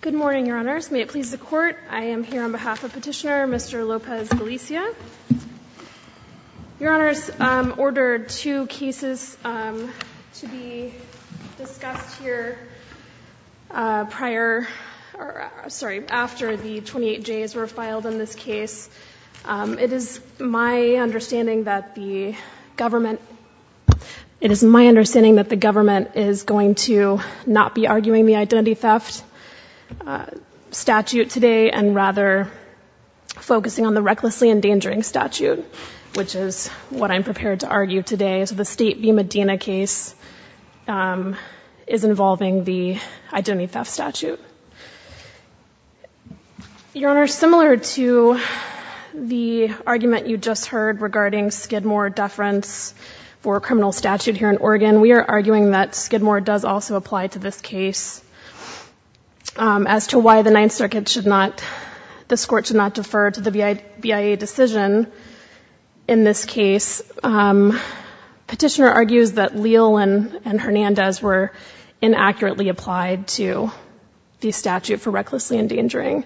Good morning, Your Honors. May it please the Court, I am here on behalf of Petitioner Mr. Lopez-Galicia. Your Honors, ordered two cases to be discussed here prior, sorry, after the 28Js were filed in this case. It is my understanding that the government is going to not be arguing the identity theft statute today, and rather focusing on the recklessly endangering statute, which is what I'm prepared to argue today. So the State v. Medina case is involving the identity theft statute. Your Honors, similar to the argument you just heard regarding Skidmore deference for a criminal statute here in Oregon, we are arguing that Skidmore does also apply to this case. As to why the Ninth Circuit should not, this Court should not defer to the BIA decision in this case, Petitioner argues that Leal and Hernandez were inaccurately applied to the statute for recklessly endangering.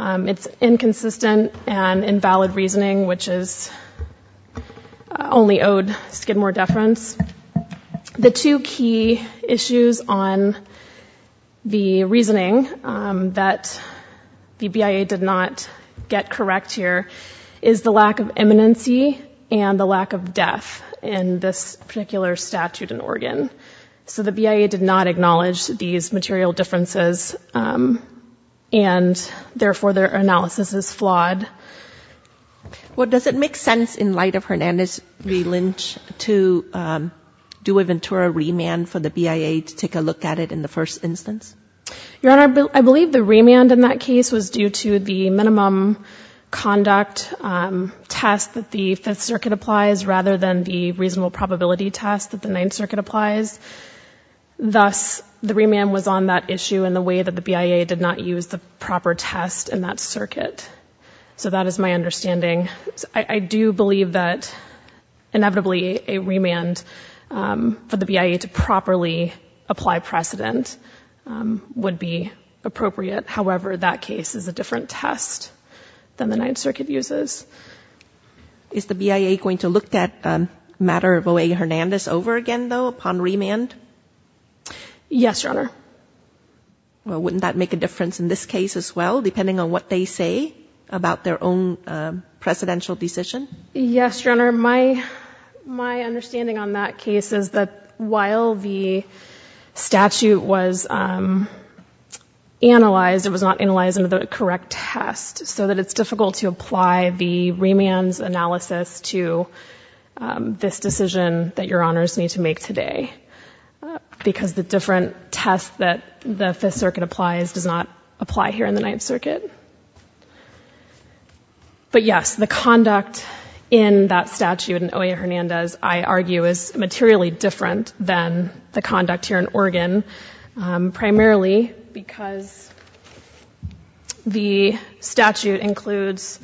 It's inconsistent and invalid reasoning, which is only owed Skidmore deference. Your Honors, the two key issues on the reasoning that the BIA did not get correct here is the lack of eminency and the lack of death in this particular statute in Oregon. So the BIA did not acknowledge these material differences, and therefore their analysis is flawed. Well, does it make sense in light of Hernandez v. Lynch to do a Ventura remand for the BIA to take a look at it in the first instance? Your Honor, I believe the remand in that case was due to the minimum conduct test that the Fifth Circuit applies rather than the reasonable probability test that the Ninth Circuit applies. Thus, the remand was on that issue in the way that the BIA did not use the proper test in that circuit. So that is my understanding. I do believe that inevitably a remand for the BIA to properly apply precedent would be appropriate. However, that case is a different test than the Ninth Circuit uses. Is the BIA going to look that matter of O.A. Hernandez over again, though, upon remand? Yes, Your Honor. Well, wouldn't that make a difference in this case as well, depending on what they say about their own presidential decision? Yes, Your Honor. My understanding on that case is that while the statute was analyzed, it was not analyzed under the correct test, so that it's difficult to apply the remand's analysis to this decision that Your Honors need to make today because the different test that the Fifth Circuit applies does not apply here in the Ninth Circuit. But yes, the conduct in that statute in O.A. Hernandez, I argue, is materially different than the conduct here in Oregon, primarily because the statute includes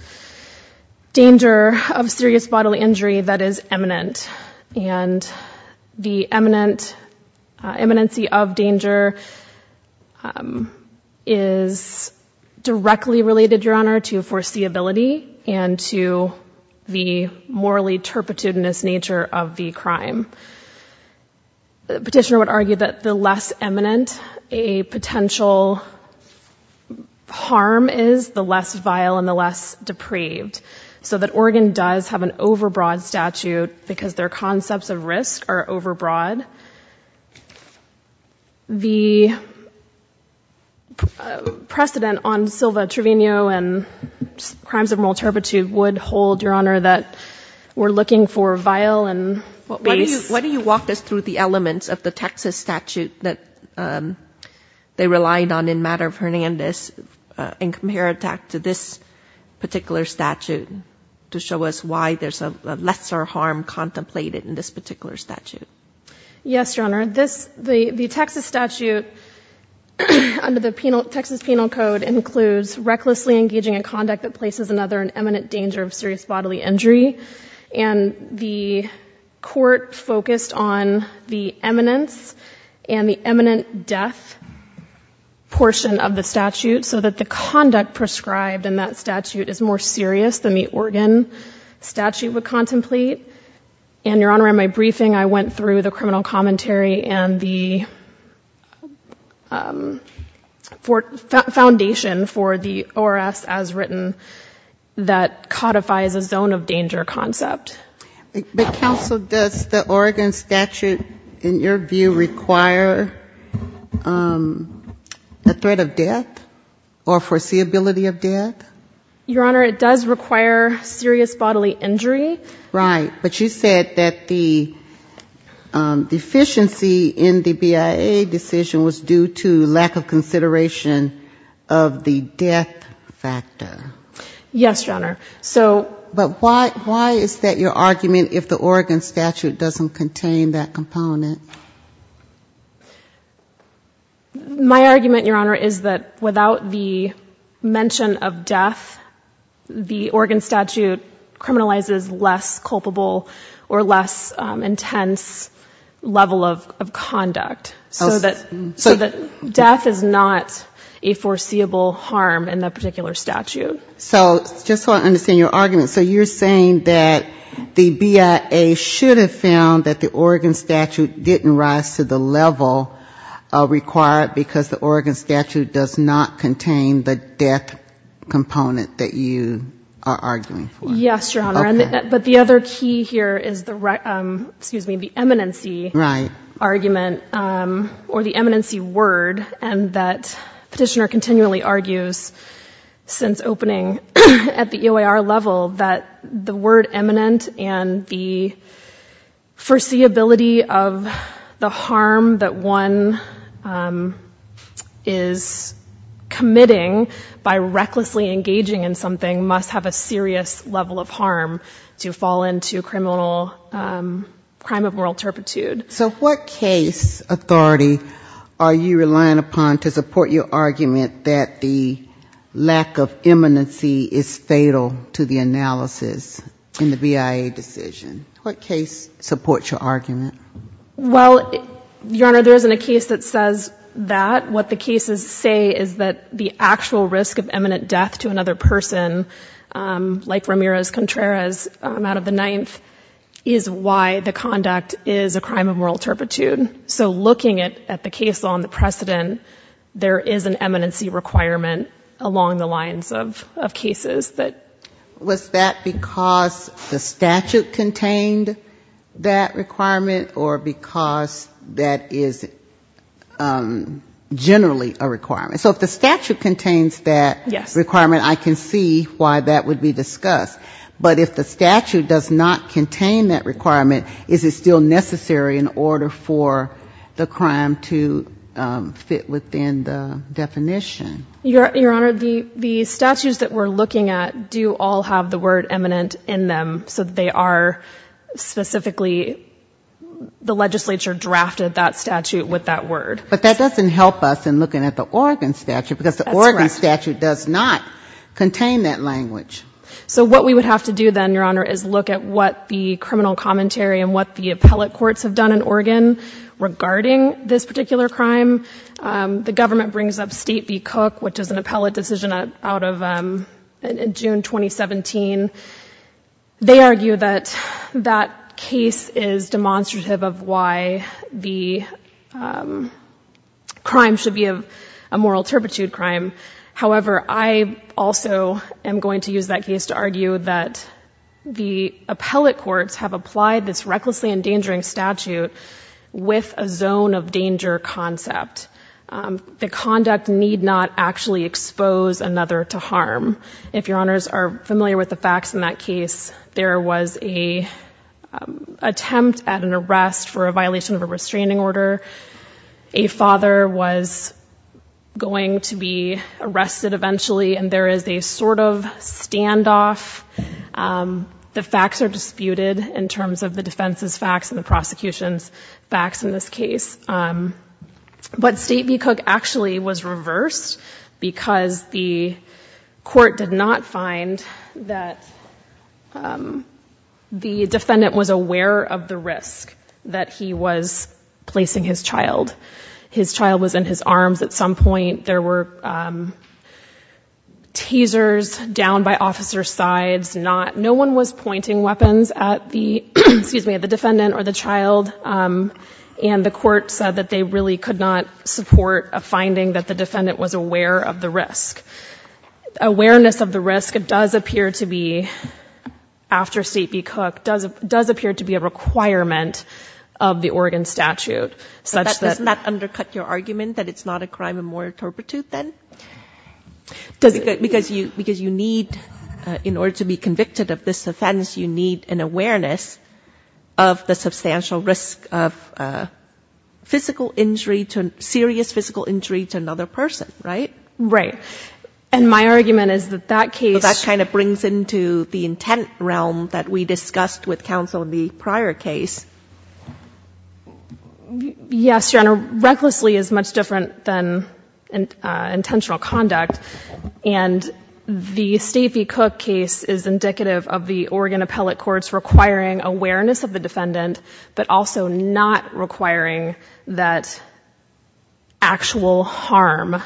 danger of serious bodily injury that is eminent, and the eminence of danger is directly related, Your Honor, to foreseeability and to the morally turpitudinous nature of the crime. The petitioner would argue that the less eminent a potential harm is, the less vile and the less depraved, so that Oregon does have an overbroad statute because their concepts of risk are overbroad. The precedent on Silva Trevino and crimes of moral turpitude would hold, Your Honor, that we're looking for vile and base. Why don't you walk us through the elements of the Texas statute that they relied on in matter of Hernandez and compare it back to this particular statute to show us why there's a lesser harm contemplated in this particular statute. Yes, Your Honor. The Texas statute under the Texas Penal Code includes recklessly engaging in conduct that places another in eminent danger of serious bodily injury, and the court focused on the eminence and the eminent death portion of the statute so that the conduct prescribed in that statute is more serious than the Oregon statute would contemplate. And, Your Honor, in my briefing I went through the criminal commentary and the foundation for the ORS as written that codifies a zone of danger concept. But, Counsel, does the Oregon statute, in your view, require a threat of death or foreseeability of death? Your Honor, it does require serious bodily injury. Right, but you said that the deficiency in the BIA decision was due to lack of consideration of the death factor. Yes, Your Honor. But why is that your argument if the Oregon statute doesn't contain that component? My argument, Your Honor, is that without the mention of death, the Oregon statute criminalizes less culpable or less intense level of conduct, so that death is not a foreseeable harm in that particular statute. So just so I understand your argument, so you're saying that the BIA should have found that the Oregon statute didn't rise to the level required because the Oregon statute does not contain the death component that you are arguing for? Yes, Your Honor. Okay. But the other key here is the, excuse me, the eminency argument or the eminency word, and that Petitioner continually argues since opening at the EOIR level that the word eminent and the foreseeability of the harm that one is committing by recklessly engaging in something must have a serious level of harm to fall into criminal crime of moral turpitude. So what case authority are you relying upon to support your argument that the lack of eminency is fatal to the analysis in the BIA decision? What case supports your argument? Well, Your Honor, there isn't a case that says that. What the cases say is that the actual risk of eminent death to another person, like Ramirez-Contreras out of the Ninth, is why the conduct is a crime of moral turpitude. So looking at the case law and the precedent, there is an eminency requirement along the lines of cases that... Was that because the statute contained that requirement or because that is generally a requirement? So if the statute contains that requirement, I can see why that would be discussed. But if the statute does not contain that requirement, is it still necessary in order for the crime to fit within the definition? Your Honor, the statutes that we're looking at do all have the word eminent in them, so they are specifically the legislature drafted that statute with that word. But that doesn't help us in looking at the Oregon statute because the Oregon statute does not contain that language. So what we would have to do then, Your Honor, is look at what the criminal commentary and what the appellate courts have done in Oregon regarding this particular crime. The government brings up State v. Cook, which is an appellate decision out of June 2017. They argue that that case is demonstrative of why the crime should be a moral turpitude crime. However, I also am going to use that case to argue that the appellate courts have applied this recklessly endangering statute with a zone of danger concept. The conduct need not actually expose another to harm. If Your Honors are familiar with the facts in that case, there was an attempt at an arrest for a violation of a restraining order. A father was going to be arrested eventually, and there is a sort of standoff. The facts are disputed in terms of the defense's facts and the prosecution's facts in this case. But State v. Cook actually was reversed because the court did not find that the defendant was aware of the risk that he was placing his child. His child was in his arms at some point. There were tasers down by officer's sides. No one was pointing weapons at the defendant or the child, and the court said that they really could not support a finding that the defendant was aware of the risk. Awareness of the risk does appear to be, after State v. Cook, does appear to be a requirement of the Oregon statute. Doesn't that undercut your argument that it's not a crime of moral turpitude then? Because you need, in order to be convicted of this offense, you need an awareness of the substantial risk of physical injury, serious physical injury to another person, right? Right. And my argument is that that case... Yes, Your Honor. Recklessly is much different than intentional conduct. And the State v. Cook case is indicative of the Oregon appellate courts requiring awareness of the defendant, but also not requiring that actual harm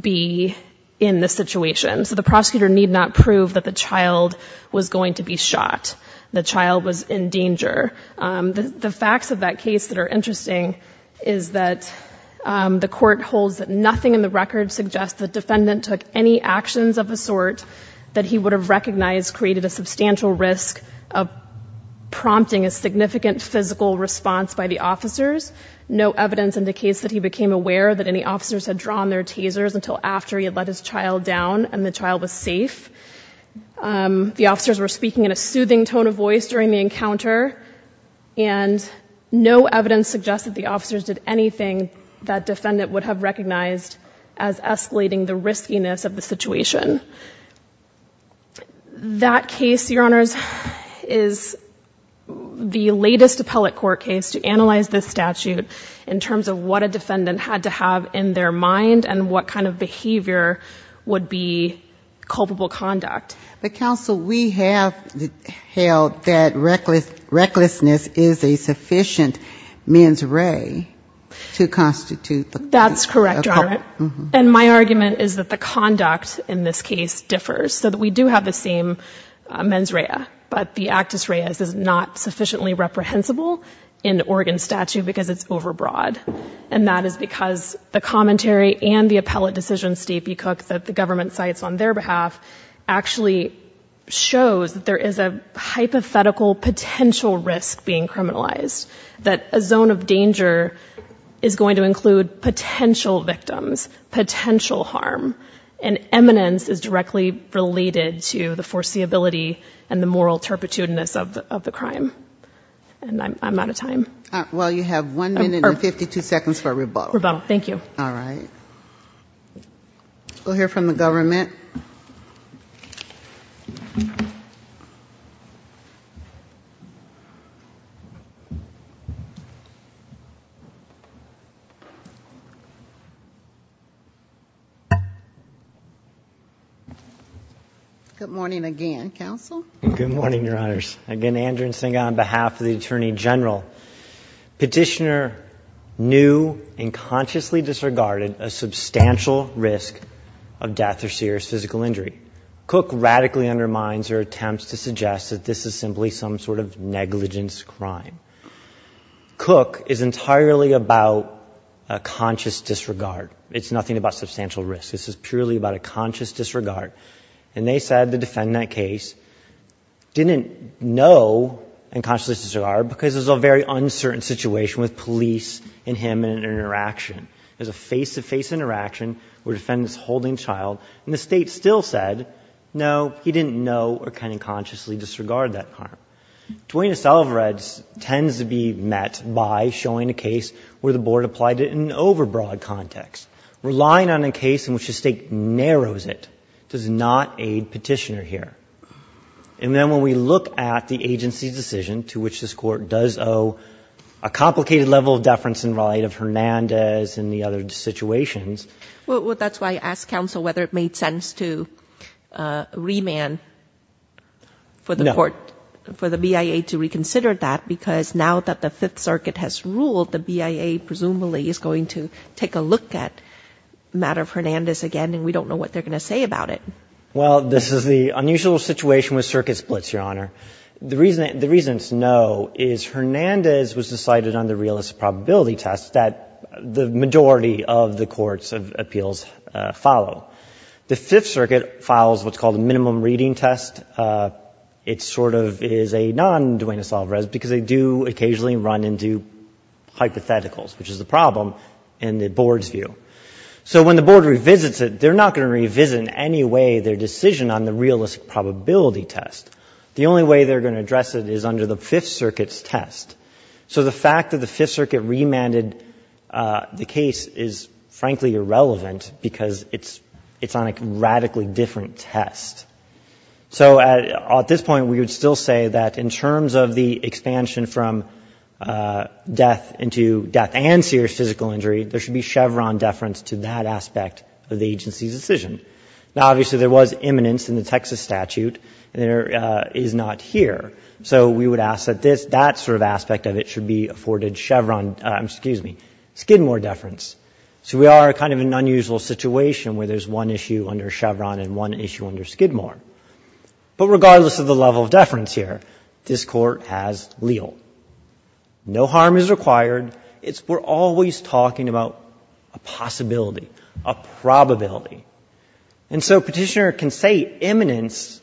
be in the situation. So the prosecutor need not prove that the child was going to be shot, the child was in danger. The facts of that case that are interesting is that the court holds that nothing in the record suggests the defendant took any actions of a sort that he would have recognized created a substantial risk of prompting a significant physical response by the officers. No evidence indicates that he became aware that any officers had drawn their tasers until after he had let his child down and the child was safe. The officers were speaking in a soothing tone of voice during the encounter, and no evidence suggests that the officers did anything that defendant would have recognized as escalating the riskiness of the situation. That case, Your Honors, is the latest appellate court case to analyze this statute in terms of what a defendant had to have in their mind and what kind of behavior would be culpable conduct. But, Counsel, we have held that recklessness is a sufficient men's ray to constitute the... That's correct, Your Honor. And my argument is that the conduct in this case differs, so that we do have the same men's ray, but the actus reas is not sufficiently reprehensible in the Oregon statute because it's overbroad. And that is because the commentary and the appellate decision, Stacey Cook, that the government cites on their behalf, actually shows that there is a hypothetical potential risk being criminalized, that a zone of danger is going to include potential victims, potential harm, and eminence is directly related to the foreseeability and the moral turpitudinous of the crime. And I'm out of time. Well, you have one minute and 52 seconds for a rebuttal. Rebuttal. Thank you. All right. We'll hear from the government. Good morning again, Counsel. Good morning, Your Honors. Again, Andrew Nsinga on behalf of the Attorney General. Petitioner knew and consciously disregarded a substantial risk of death or serious physical injury. Cook radically undermines her attempts to suggest that this is simply some sort of negligence crime. Cook is entirely about a conscious disregard. It's nothing about substantial risk. This is purely about a conscious disregard. And they said the defendant in that case didn't know and consciously disregarded because it was a very uncertain situation with police and him in an interaction. It was a face-to-face interaction where the defendant is holding the child, and the State still said, no, he didn't know or kind of consciously disregarded that harm. Dwayne Estalvired tends to be met by showing a case where the Board applied it in an overbroad context, relying on a case in which the State narrows it does not aid Petitioner here. And then when we look at the agency's decision to which this Court does owe a complicated level of deference and right of Hernandez and the other situations. Well, that's why I asked Counsel whether it made sense to remand for the BIA to reconsider that because now that the Fifth Circuit has ruled, the BIA presumably is going to take a look at the matter of Hernandez again, and we don't know what they're going to say about it. Well, this is the unusual situation with circuit splits, Your Honor. The reason it's no is Hernandez was decided on the realist probability test that the majority of the Court's appeals follow. The Fifth Circuit files what's called a minimum reading test. It sort of is a non-Dwayne Estalvired because they do occasionally run into hypotheticals, which is the problem in the Board's view. So when the Board revisits it, they're not going to revisit in any way their decision on the realist probability test. The only way they're going to address it is under the Fifth Circuit's test. So the fact that the Fifth Circuit remanded the case is frankly irrelevant because it's on a radically different test. So at this point, we would still say that in terms of the expansion from death into death and serious physical injury, there should be Chevron deference to that aspect of the agency's decision. Now, obviously, there was imminence in the Texas statute, and there is not here. So we would ask that that sort of aspect of it should be afforded Chevron, excuse me, Skidmore deference. So we are kind of in an unusual situation where there's one issue under Chevron and one issue under Skidmore. But regardless of the level of deference here, this Court has leal. No harm is required. We're always talking about a possibility, a probability. And so Petitioner can say imminence,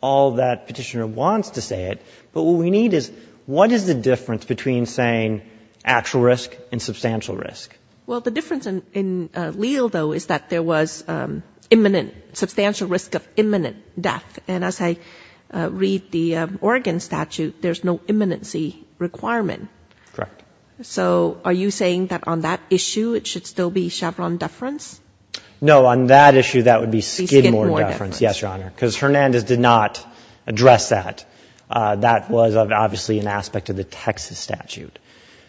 all that Petitioner wants to say it, but what we need is what is the difference between saying actual risk and substantial risk? Well, the difference in leal, though, is that there was imminent, substantial risk of imminent death. And as I read the Oregon statute, there's no imminency requirement. Correct. So are you saying that on that issue, it should still be Chevron deference? No, on that issue, that would be Skidmore deference. Skidmore deference. Yes, Your Honor, because Hernandez did not address that. That was obviously an aspect of the Texas statute.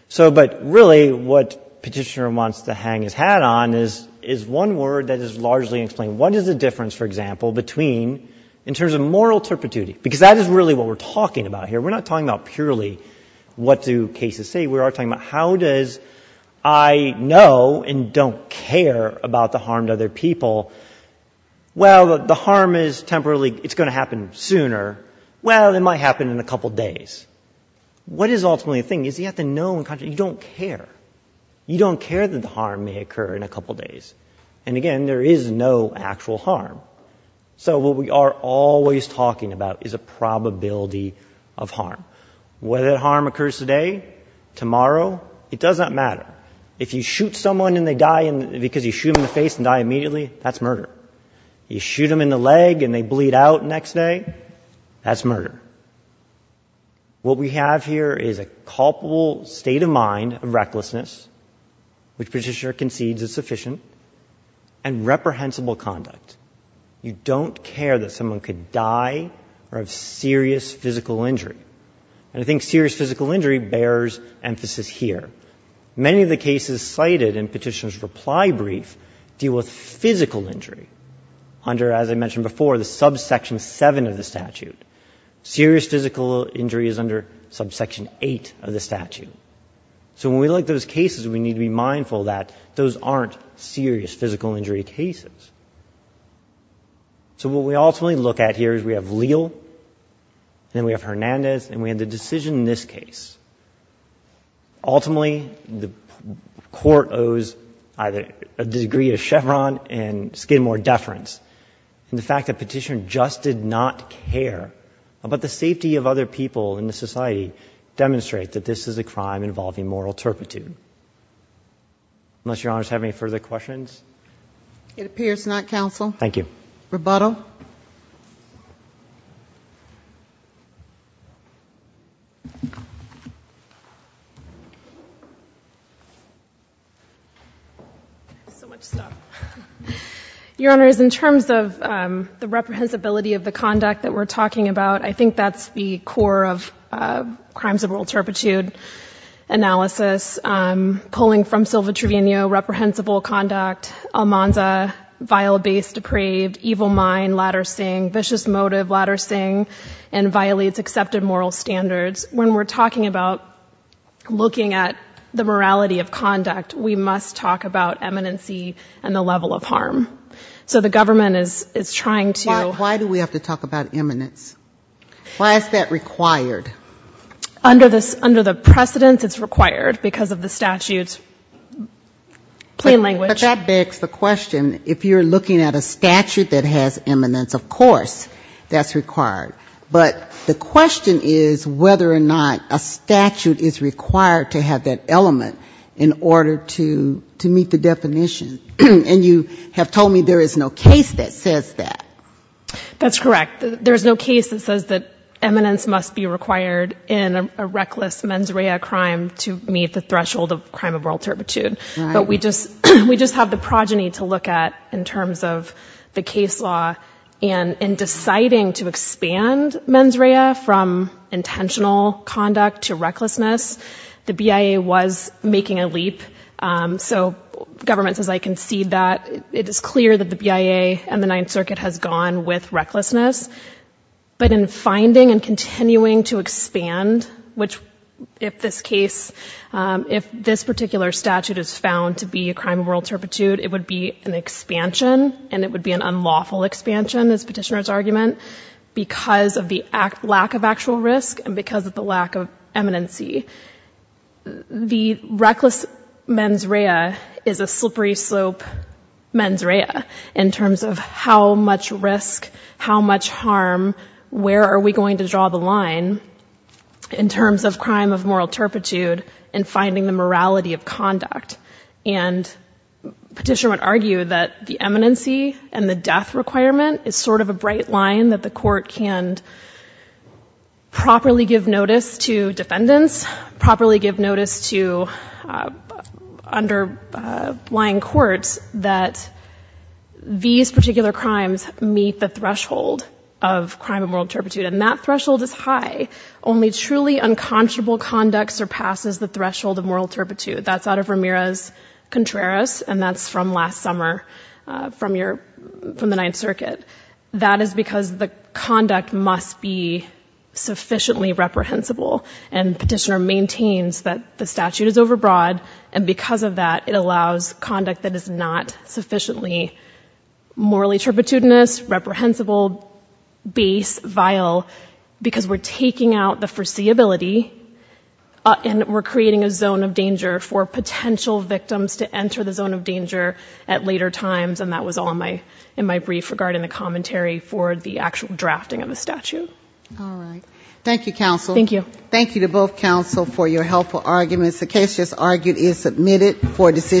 So, but really what Petitioner wants to hang his hat on is one word that is largely explained. What is the difference, for example, between, in terms of moral turpitude, because that is really what we're talking about here. We're not talking about purely what do cases say. We are talking about how does I know and don't care about the harm to other people. Well, the harm is temporarily, it's going to happen sooner. Well, it might happen in a couple days. What is ultimately the thing is you have to know and you don't care. You don't care that the harm may occur in a couple days. And again, there is no actual harm. So what we are always talking about is a probability of harm. Whether that harm occurs today, tomorrow, it does not matter. If you shoot someone and they die because you shoot them in the face and die immediately, that's murder. You shoot them in the leg and they bleed out next day, that's murder. What we have here is a culpable state of mind of recklessness, which Petitioner concedes is sufficient, and reprehensible conduct. You don't care that someone could die or have serious physical injury. And I think serious physical injury bears emphasis here. Many of the cases cited in Petitioner's reply brief deal with physical injury under, as I mentioned before, the subsection 7 of the statute. Serious physical injury is under subsection 8 of the statute. So when we look at those cases, we need to be mindful that those aren't serious physical injury cases. So what we ultimately look at here is we have Leal, then we have Hernandez, and we have the decision in this case. Ultimately, the court owes either a degree of Chevron and Skidmore deference. And the fact that Petitioner just did not care about the safety of other people in the society demonstrates that this is a crime involving moral turpitude. Unless Your Honors have any further questions? It appears not, Counsel. Thank you. Rebuttal. So much stuff. Your Honors, in terms of the reprehensibility of the conduct that we're talking about, I think that's the core of crimes of moral turpitude analysis. Pulling from Silva-Trevino, reprehensible conduct, Almanza, vile, base, depraved, evil mind, ladder sing, vicious motive, ladder sing, and violates accepted moral standards. When we're talking about looking at the morality of conduct, we must talk about eminency and the level of harm. So the government is trying to... Why do we have to talk about eminence? Why is that required? Under the precedence, it's required because of the statute's plain language. But that begs the question, if you're looking at a statute that has eminence, of course that's required. But the question is whether or not a statute is required to have that element in order to meet the definition. And you have told me there is no case that says that. That's correct. There's no case that says that eminence must be required in a reckless mens rea crime to meet the threshold of crime of moral turpitude. But we just have the progeny to look at in terms of the case law. And in deciding to expand mens rea from intentional conduct to recklessness, the BIA was making a leap. So the government says, I concede that. It is clear that the BIA and the Ninth Circuit has gone with recklessness. But in finding and continuing to expand, which if this case, if this particular statute is found to be a crime of moral turpitude, it would be an expansion and it would be an unlawful expansion, is Petitioner's argument, because of the lack of actual risk and because of the lack of eminency. The reckless mens rea is a slippery slope mens rea in terms of how much risk, how much harm, where are we going to draw the line in terms of crime of moral turpitude and finding the morality of conduct. And Petitioner would argue that the eminency and the death requirement is sort of a bright line that the court can properly give notice to defendants, properly give notice to underlying courts that these particular crimes meet the threshold of crime of moral turpitude. And that threshold is high. Only truly unconscionable conduct surpasses the threshold of moral turpitude. That's out of Ramirez-Contreras, and that's from last summer from the Ninth Circuit. That is because the conduct must be sufficiently reprehensible, and Petitioner maintains that the statute is overbroad, and because of that it allows conduct that is not sufficiently morally turpitudinous, reprehensible, base, vile, because we're taking out the foreseeability and we're creating a zone of danger for potential victims to enter the zone of danger at later times. And that was all in my brief regarding the commentary for the actual drafting of the statute. All right. Thank you, counsel. Thank you. Thank you to both counsel for your helpful arguments. The case just argued is submitted for decision making.